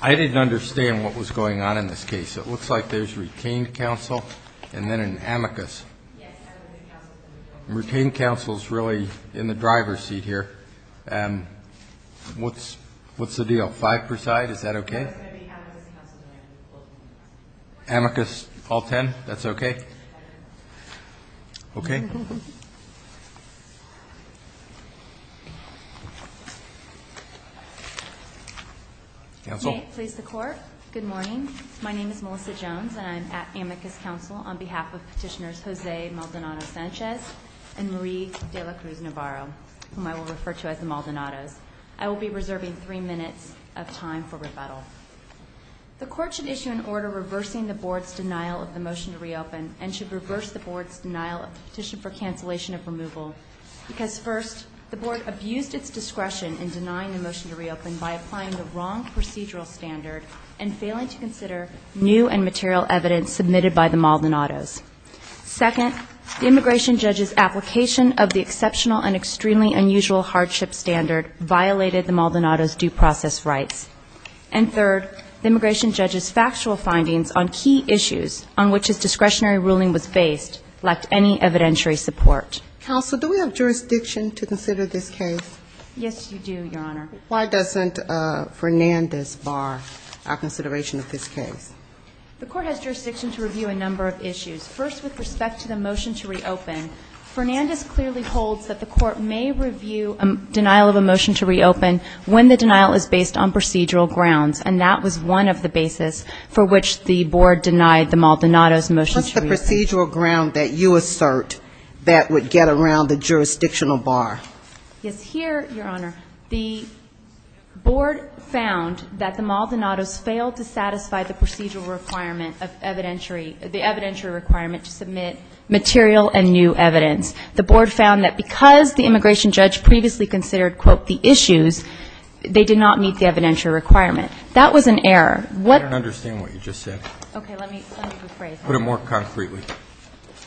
I didn't understand what was going on in this case. It looks like there's retained counsel and then an amicus. Retained counsel is really in the driver's seat here. And what's what's the deal? Five per side. Is that OK? Amicus all ten. That's OK. OK. May it please the Court. Good morning. My name is Melissa Jones and I'm at Amicus Counsel on behalf of Petitioners Jose Maldonado Sanchez and Marie de la Cruz Navarro, whom I will refer to as the Maldonados. I will be reserving three minutes of time for rebuttal. The Court should issue an order reversing the Board's denial of the motion to reopen and should reverse the Board's denial of the petition for cancellation of removal because, first, the Board abused its discretion in denying the motion to reopen by applying the wrong procedural standard and failing to consider new and material evidence submitted by the Maldonados. Second, the immigration judge's application of the exceptional and extremely unusual hardship standard violated the Maldonados' due process rights. And third, the immigration judge's factual findings on key issues on which his discretionary ruling was based lacked any evidentiary support. Counsel, do we have jurisdiction to consider this case? Yes, you do, Your Honor. Why doesn't Fernandez bar our consideration of this case? The Court has jurisdiction to review a number of issues. First, with respect to the motion to reopen, Fernandez clearly holds that the Court may review a denial of a motion to reopen when the denial is based on procedural grounds, and that was one of the basis for which the Board denied the Maldonados' motion to reopen. What's the procedural ground that you assert that would get around the jurisdictional bar? Yes, here, Your Honor, the Board found that the Maldonados failed to satisfy the procedural requirement of evidentiary – material and new evidence. The Board found that because the immigration judge previously considered, quote, the issues, they did not meet the evidentiary requirement. That was an error. I don't understand what you just said. Okay, let me rephrase that. Put it more concretely.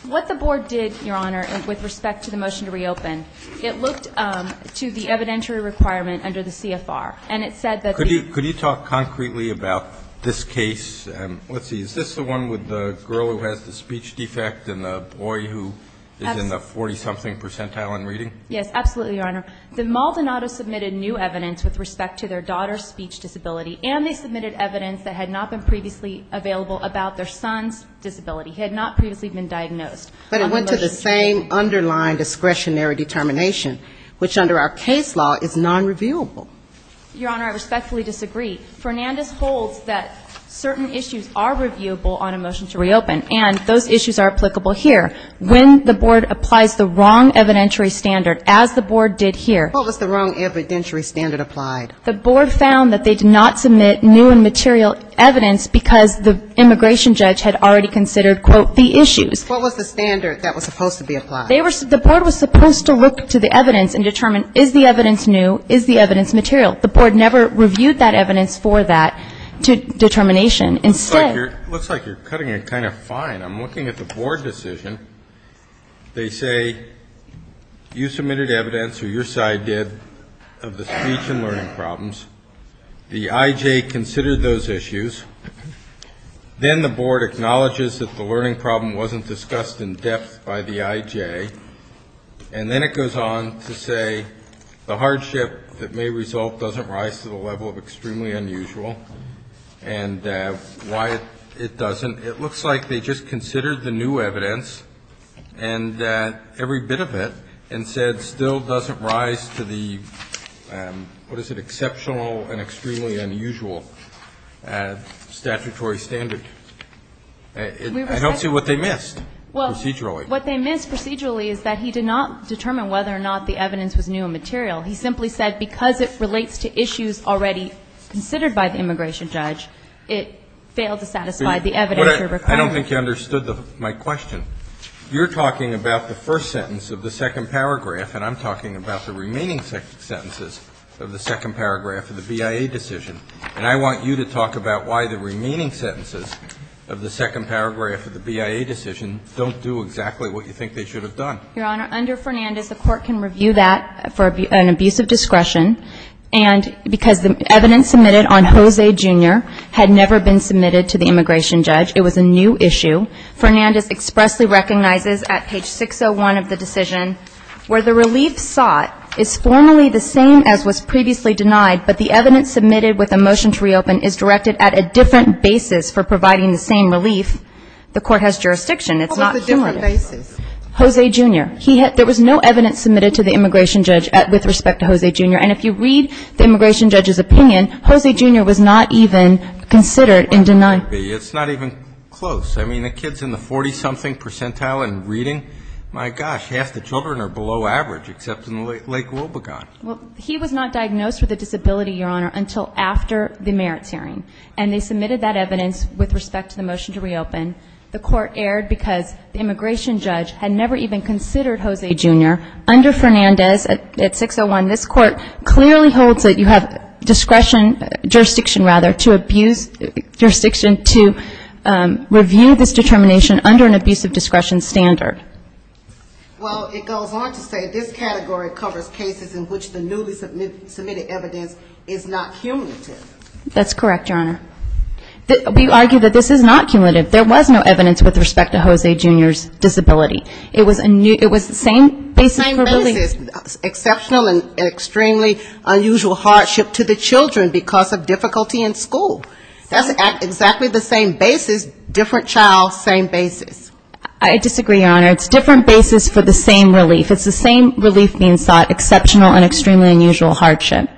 What the Board did, Your Honor, with respect to the motion to reopen, it looked to the evidentiary requirement under the CFR, and it said that the – Could you talk concretely about this case? Let's see, is this the one with the girl who has the speech defect and the boy who is in the 40-something percentile in reading? Yes, absolutely, Your Honor. The Maldonados submitted new evidence with respect to their daughter's speech disability, and they submitted evidence that had not been previously available about their son's disability. He had not previously been diagnosed. But it went to the same underlying discretionary determination, which under our case law is nonrevealable. Your Honor, I respectfully disagree. Fernandez holds that certain issues are reviewable on a motion to reopen, and those issues are applicable here. When the Board applies the wrong evidentiary standard, as the Board did here – What was the wrong evidentiary standard applied? The Board found that they did not submit new and material evidence because the immigration judge had already considered, quote, the issues. What was the standard that was supposed to be applied? They were – the Board was supposed to look to the evidence and determine is the evidence new, is the evidence material. The Board never reviewed that evidence for that determination. Instead – It looks like you're cutting it kind of fine. I'm looking at the Board decision. They say you submitted evidence, or your side did, of the speech and learning problems. The IJ considered those issues. Then the Board acknowledges that the learning problem wasn't discussed in depth by the IJ. And then it goes on to say the hardship that may result doesn't rise to the level of extremely unusual, and why it doesn't. It looks like they just considered the new evidence and every bit of it and said still doesn't rise to the, what is it, exceptional and extremely unusual statutory standard. I don't see what they missed procedurally. What they missed procedurally is that he did not determine whether or not the evidence was new and material. He simply said because it relates to issues already considered by the immigration judge, it failed to satisfy the evidence required. I don't think you understood my question. You're talking about the first sentence of the second paragraph, and I'm talking about the remaining sentences of the second paragraph of the BIA decision. And I want you to talk about why the remaining sentences of the second paragraph of the BIA decision don't do exactly what you think they should have done. Your Honor, under Fernandez, the Court can review that for an abuse of discretion. And because the evidence submitted on Jose, Jr. had never been submitted to the immigration judge, it was a new issue. Fernandez expressly recognizes at page 601 of the decision where the relief sought is formally the same as was previously denied, but the evidence submitted with a motion to reopen is directed at a different basis for providing the same relief. The Court has jurisdiction. It's not cumulative. What was the different basis? Jose, Jr. There was no evidence submitted to the immigration judge with respect to Jose, Jr. And if you read the immigration judge's opinion, Jose, Jr. was not even considered and denied. It's not even close. I mean, the kid's in the 40-something percentile in reading. My gosh, half the children are below average, except in Lake Robagon. Well, he was not diagnosed with a disability, Your Honor, until after the merits hearing. And they submitted that evidence with respect to the motion to reopen. The Court erred because the immigration judge had never even considered Jose, Jr. Under Fernandez at 601, this Court clearly holds that you have discretion, jurisdiction, rather, to abuse jurisdiction to review this determination under an abuse of discretion standard. Well, it goes on to say this category covers cases in which the newly submitted evidence is not cumulative. That's correct, Your Honor. We argue that this is not cumulative. There was no evidence with respect to Jose, Jr.'s disability. It was the same basis for relief. Same basis. Exceptional and extremely unusual hardship to the children because of difficulty in school. That's exactly the same basis, different child, same basis. I disagree, Your Honor. It's different basis for the same relief. It's the same relief being sought, exceptional and extremely unusual hardship.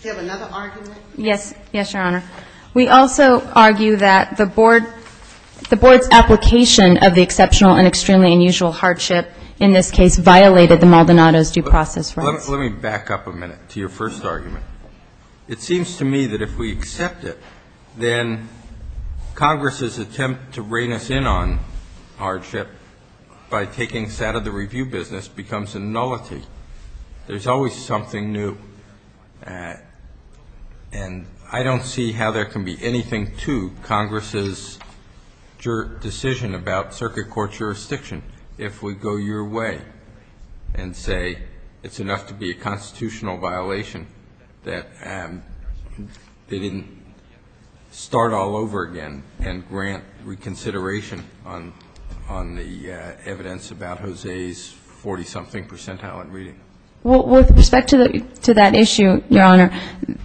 Do you have another argument? Yes. Yes, Your Honor. We also argue that the Board's application of the exceptional and extremely unusual hardship in this case violated the Maldonado's due process rights. Let me back up a minute to your first argument. It seems to me that if we accept it, then Congress's attempt to rein us in on hardship by taking us out of the review business becomes a nullity. There's always something new. And I don't see how there can be anything to Congress's decision about circuit court jurisdiction if we go your way and say it's enough to be a constitutional violation. That's not the case. If we are going to do something that violates the Maldonado's due process rights, we have to tell Congress that's not the case. If we are going to do something that violates the Maldonado's due process rights, we have to tell Congress that that's not the case. Can you really say that they did something that they didn't start all over again and grant reconsideration on the evidence about an abuse of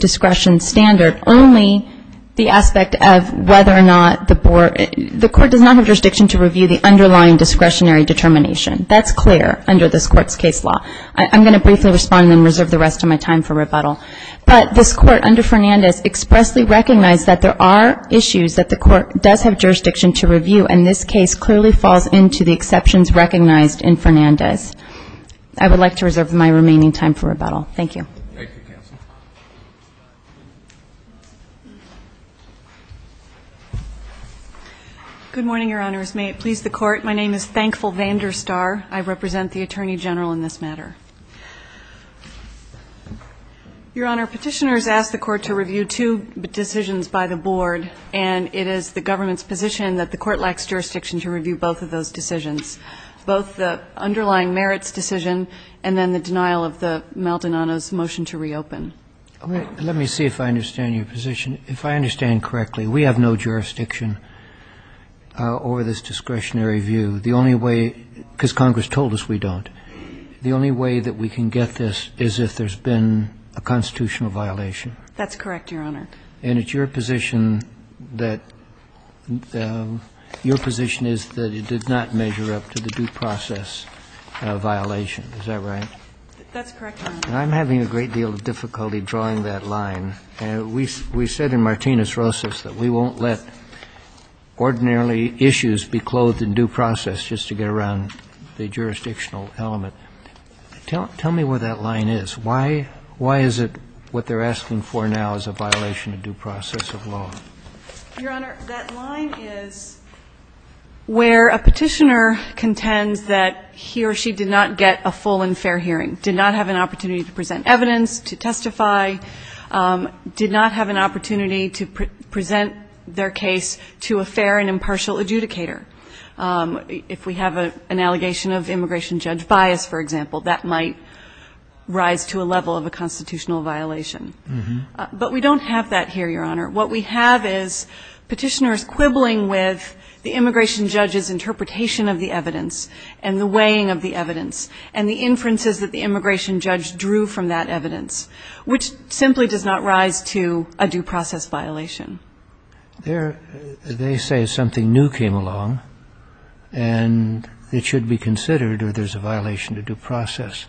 discretion standard, only the aspect of whether or not the court does not have jurisdiction to review the underlying discretionary determination? That's clear under this court's case law. I'm going to briefly respond and then reserve the rest of my time for rebuttal. But this court under Fernandez expressly recognized that there are issues that the court does have jurisdiction to review, and this case clearly falls into the exceptions recognized in Fernandez. I would like to reserve my remaining time for rebuttal. Thank you. Thank you, counsel. Good morning, Your Honors. May it please the Court. My name is Thankful Vanderstar. I represent the Attorney General in this matter. Your Honor, Petitioners ask the Court to review two decisions by the Board, and it is the government's position that the Court lacks jurisdiction to review both of those decisions, both the underlying merits decision and then the denial of the Maldonado's motion to reopen. Let me see if I understand your position. If I understand correctly, we have no jurisdiction over this discretionary view. The only way, because Congress told us we don't, the only way that we can get this is if there's been a constitutional violation. That's correct, Your Honor. And it's your position that your position is that it did not measure up to the due process violation. Is that right? That's correct, Your Honor. I'm having a great deal of difficulty drawing that line. We said in Martinez-Rosas that we won't let ordinarily issues be clothed in due process just to get around the jurisdictional element. Tell me what that line is. Why is it what they're asking for now is a violation of due process of law? Your Honor, that line is where a Petitioner contends that he or she did not get a full and fair hearing, did not have an opportunity to present evidence, to testify, did not have an opportunity to present their case to a fair and impartial adjudicator. If we have an allegation of immigration judge bias, for example, that might rise to a level of a constitutional violation. But we don't have that here, Your Honor. What we have is Petitioners quibbling with the immigration judge's interpretation of the evidence and the weighing of the evidence and the inferences that the immigration judge drew from that evidence, which simply does not rise to a due process violation. They say something new came along and it should be considered or there's a violation to due process.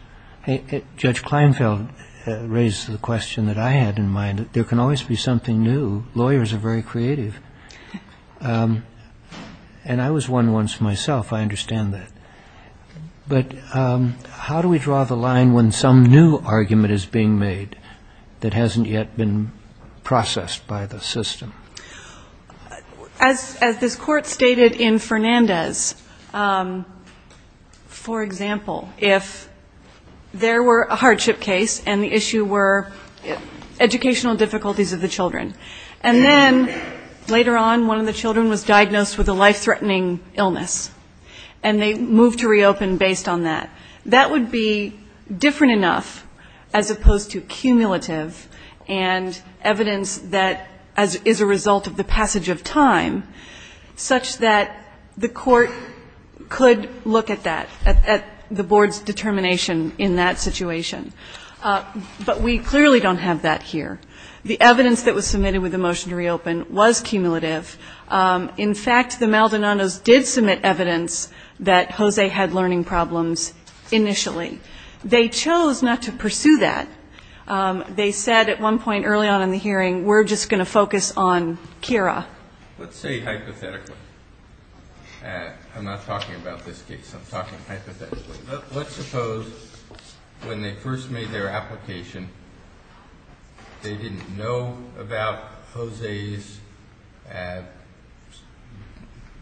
Judge Kleinfeld raised the question that I had in mind that there can always be something new. Lawyers are very creative. And I was one once myself. I understand that. But how do we draw the line when some new argument is being made that hasn't yet been processed by the system? As this Court stated in Fernandez, for example, if there were a hardship case and the issue were educational difficulties of the children, and then later on one of the children was diagnosed with a life-threatening illness and they moved to reopen based on that, that would be different enough, as opposed to cumulative and evidence that is a result of the passage of time, such that the court could look at that, at the board's determination in that situation. But we clearly don't have that here. The evidence that was submitted with the motion to reopen was cumulative. In fact, the Maldonados did submit evidence that Jose had learning problems initially. They chose not to pursue that. They said at one point early on in the hearing, we're just going to focus on Kira. Let's say hypothetically. I'm not talking about this case. I'm talking hypothetically. Let's suppose when they first made their application, they didn't know about Jose's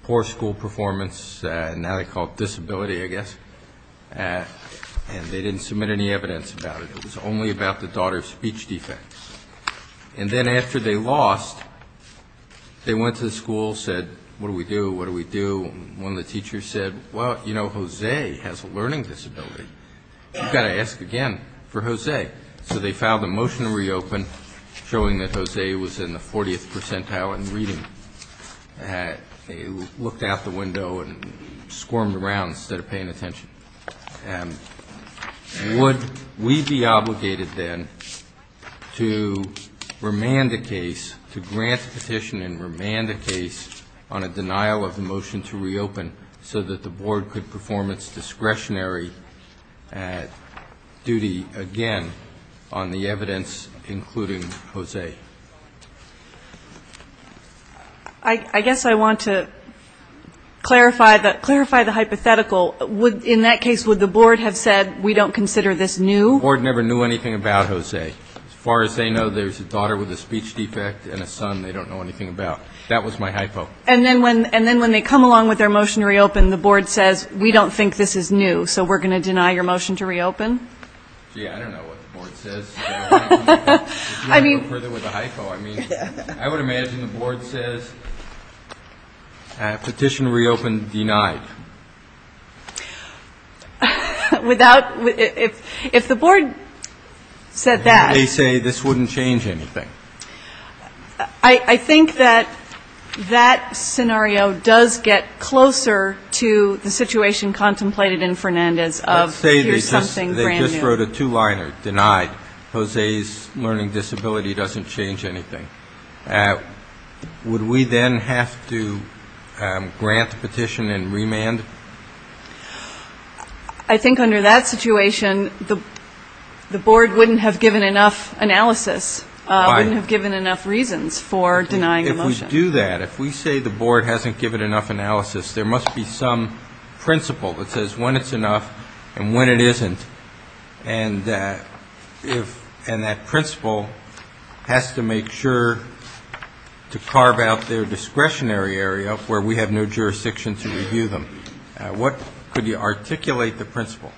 poor school performance. Now they call it disability, I guess. And they didn't submit any evidence about it. It was only about the daughter's speech defects. And then after they lost, they went to the school, said, what do we do, what do we do? One of the teachers said, well, you know, Jose has a learning disability. You've got to ask again for Jose. So they filed a motion to reopen showing that Jose was in the 40th percentile in reading. They looked out the window and squirmed around instead of paying attention. Would we be obligated then to remand the case, to grant petition and remand the case on a denial of the motion to reopen, so that the board could perform its discretionary duty again on the evidence including Jose? I guess I want to clarify the hypothetical. In that case, would the board have said, we don't consider this new? The board never knew anything about Jose. As far as they know, there's a daughter with a speech defect and a son. They don't know anything about. That was my hypo. And then when they come along with their motion to reopen, the board says, we don't think this is new. So we're going to deny your motion to reopen? Gee, I don't know what the board says. If you want to go further with the hypo. I mean, I would imagine the board says, petition reopened denied. Without, if the board said that. They say this wouldn't change anything. I think that that scenario does get closer to the situation contemplated in Fernandez of here's something brand new. Let's say they just wrote a two-liner, denied, Jose's learning disability doesn't change anything. Would we then have to grant petition and remand? I think under that situation, the board wouldn't have given enough analysis, wouldn't have given enough reasons for denying the motion. If we do that, if we say the board hasn't given enough analysis, there must be some principle that says when it's enough and when it isn't. And that principle has to make sure to carve out their discretionary area where we have no jurisdiction to review them. What could you articulate the principle?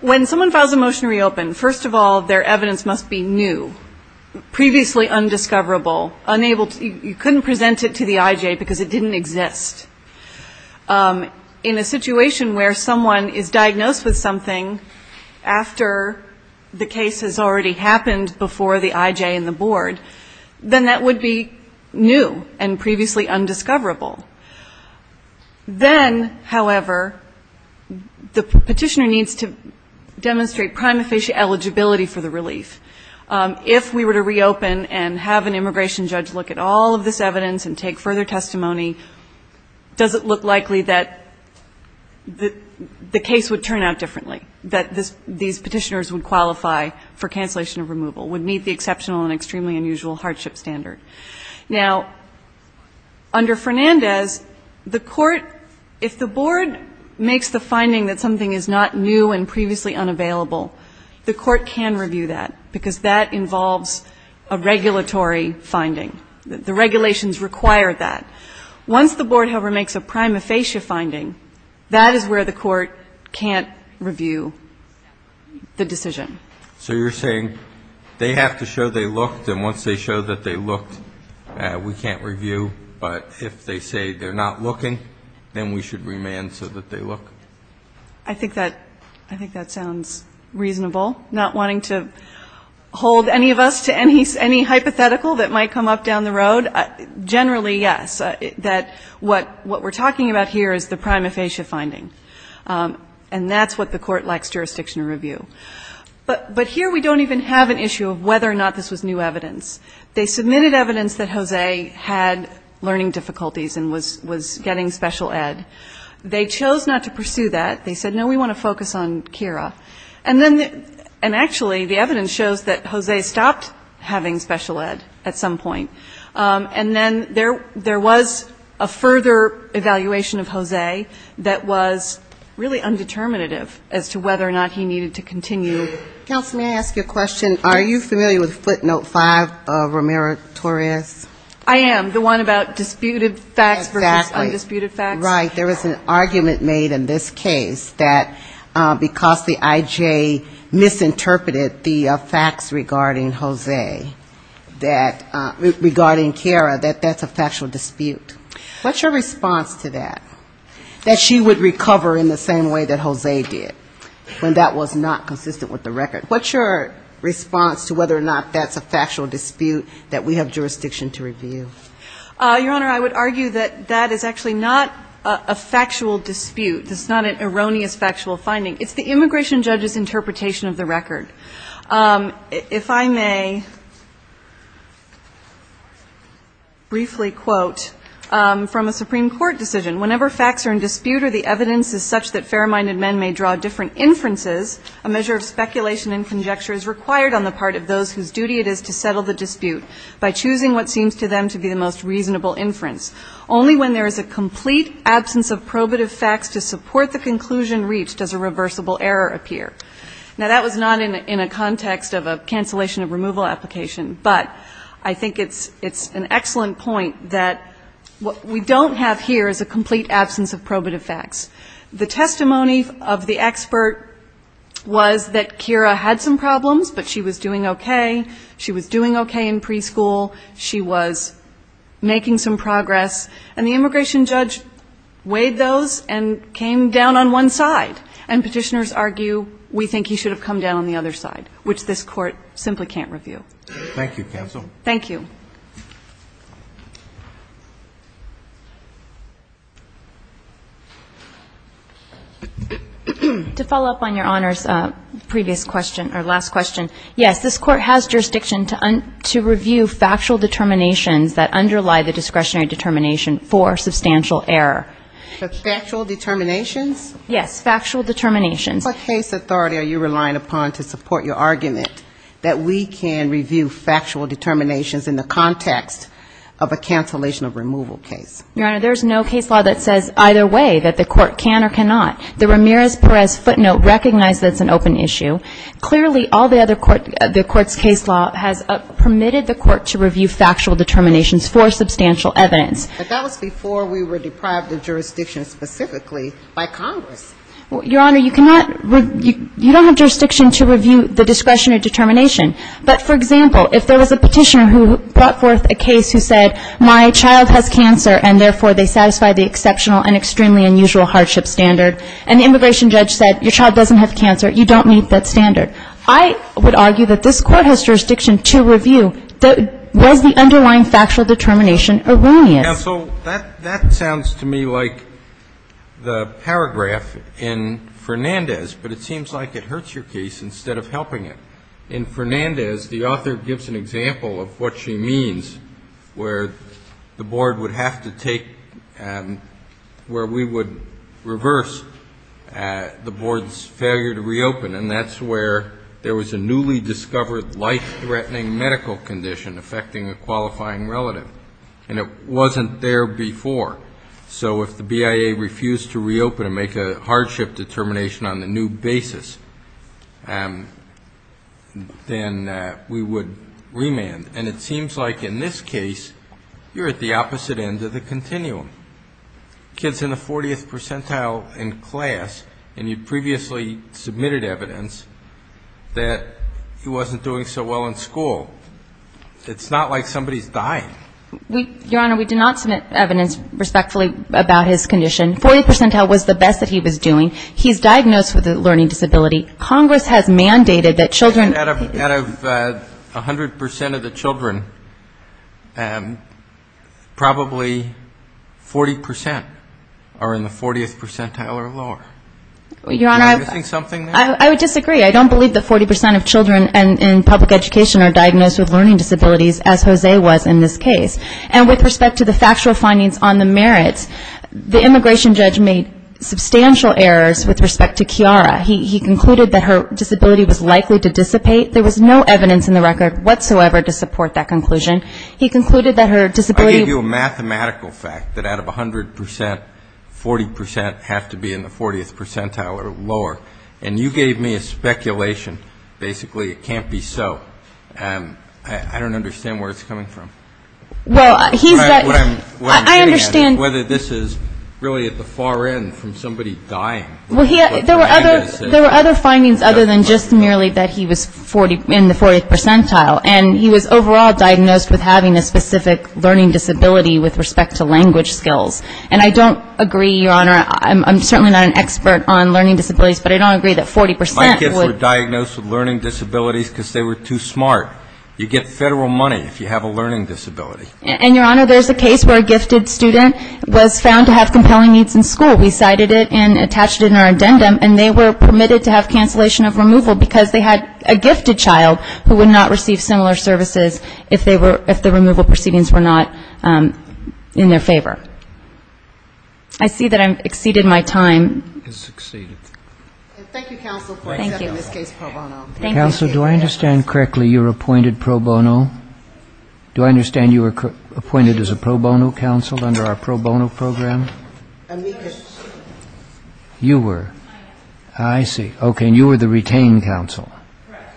When someone files a motion to reopen, first of all, their evidence must be new, previously undiscoverable. You couldn't present it to the IJ because it didn't exist. In a situation where someone is diagnosed with something after the case has already happened before the IJ and the board, then that would be new and previously undiscoverable. Then, however, the petitioner needs to demonstrate prima facie eligibility for the relief. If we were to reopen and have an immigration judge look at all of this evidence and take further testimony, does it look likely that the case would turn out differently, that these petitioners would qualify for cancellation of removal, would meet the exceptional and extremely unusual hardship standard? Now, under Fernandez, the court, if the board makes the finding that something is not new and previously unavailable, the court can review that because that involves a regulatory finding. The regulations require that. Once the board, however, makes a prima facie finding, that is where the court can't review the decision. So you're saying they have to show they looked, and once they show that they looked, we can't review, but if they say they're not looking, then we should remand so that they look? I think that sounds reasonable. Not wanting to hold any of us to any hypothetical that might come up down the road. Generally, yes, that what we're talking about here is the prima facie finding, and that's what the court likes jurisdiction to review. But here we don't even have an issue of whether or not this was new evidence. They submitted evidence that Jose had learning difficulties and was getting special ed. They chose not to pursue that. And actually, the evidence shows that Jose stopped having special ed. at some point. And then there was a further evaluation of Jose that was really undeterminative as to whether or not he needed to continue. Counsel, may I ask you a question? Are you familiar with footnote 5 of Romero-Torres? I am, the one about disputed facts versus undisputed facts. Right. There was an argument made in this case that because the I.J. misinterpreted the facts regarding Jose, regarding Kara, that that's a factual dispute. What's your response to that, that she would recover in the same way that Jose did when that was not consistent with the record? What's your response to whether or not that's a factual dispute that we have jurisdiction to review? Your Honor, I would argue that that is actually not a factual dispute. It's not an erroneous factual finding. It's the immigration judge's interpretation of the record. If I may briefly quote from a Supreme Court decision, whenever facts are in dispute or the evidence is such that fair-minded men may draw different inferences, a measure of speculation and conjecture is required on the part of those whose duty it is to settle the dispute by choosing what seems to them to be the most reasonable inference. Only when there is a complete absence of probative facts to support the conclusion reached does a reversible error appear. Now, that was not in a context of a cancellation of removal application, but I think it's an excellent point that what we don't have here is a complete absence of probative facts. The testimony of the expert was that Kara had some problems, but she was doing okay. She was doing okay in preschool. She was making some progress. And the immigration judge weighed those and came down on one side. And petitioners argue we think he should have come down on the other side, which this Court simply can't review. Thank you, counsel. Thank you. To follow up on Your Honor's previous question or last question, yes, this Court has jurisdiction to review factual determinations that underlie the discretionary determination for substantial error. But factual determinations? Yes, factual determinations. What case authority are you relying upon to support your argument that we can review factual determinations in the context of a cancellation of removal case? Your Honor, there's no case law that says either way that the Court can or cannot. The Ramirez-Perez footnote recognized that's an open issue. Clearly, all the other court the Court's case law has permitted the Court to review factual determinations for substantial evidence. But that was before we were deprived of jurisdiction specifically by Congress. Your Honor, you cannot you don't have jurisdiction to review the discretionary determination. But, for example, if there was a petitioner who brought forth a case who said my child has cancer and, therefore, they satisfy the exceptional and extremely unusual hardship standard, and the immigration judge said your child doesn't have cancer, you don't meet that standard, I would argue that this Court has jurisdiction to review. Was the underlying factual determination erroneous? Counsel, that sounds to me like the paragraph in Fernandez, but it seems like it hurts your case instead of helping it. In Fernandez, the author gives an example of what she means where the Board would have to take where we would reverse the Board's failure to reopen, and that's where there was a newly discovered life-threatening medical condition affecting a qualifying relative. And it wasn't there before. So if the BIA refused to reopen and make a hardship determination on the new basis, then we would remand. And it seems like in this case, you're at the opposite end of the continuum. A kid's in the 40th percentile in class, and you previously submitted evidence that he wasn't doing so well in school. It's not like somebody's dying. Your Honor, we did not submit evidence respectfully about his condition. 40th percentile was the best that he was doing. He's diagnosed with a learning disability. Congress has mandated that children... Out of 100% of the children, probably 40% are in the 40th percentile or lower. Your Honor, I would disagree. I don't believe that 40% of children in public education are diagnosed with learning disabilities, as Jose was in this case. And with respect to the factual findings on the merits, the immigration judge made substantial errors with respect to Kiara. He concluded that her disability was likely to dissipate. There was no evidence in the record whatsoever to support that conclusion. He concluded that her disability... I gave you a mathematical fact that out of 100%, 40% have to be in the 40th percentile or lower, and you gave me a speculation. Basically, it can't be so. I don't understand where it's coming from. Well, he's got... What I'm getting at is whether this is really at the far end from somebody dying. There were other findings other than just merely that he was in the 40th percentile. And he was overall diagnosed with having a specific learning disability with respect to language skills. And I don't agree, Your Honor. I'm certainly not an expert on learning disabilities, but I don't agree that 40% would... My kids were diagnosed with learning disabilities because they were too smart. You get federal money if you have a learning disability. And, Your Honor, there's a case where a gifted student was found to have compelling needs in school. We cited it and attached it in our addendum, and they were permitted to have cancellation of removal because they had a gifted child who would not receive similar services if the removal proceedings were not in their favor. I see that I've exceeded my time. It's exceeded. Thank you, counsel, for accepting this case pro bono. Counsel, do I understand correctly you were appointed pro bono? Do I understand you were appointed as a pro bono counsel under our pro bono program? Yes. You were? I am. I see. Okay. And you were the retained counsel? Correct.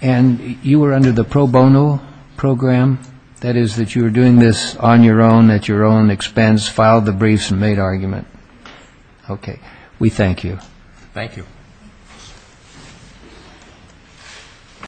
And you were under the pro bono program? That is, that you were doing this on your own, at your own expense, filed the briefs, and made argument? Yes. Okay. We thank you. Thank you.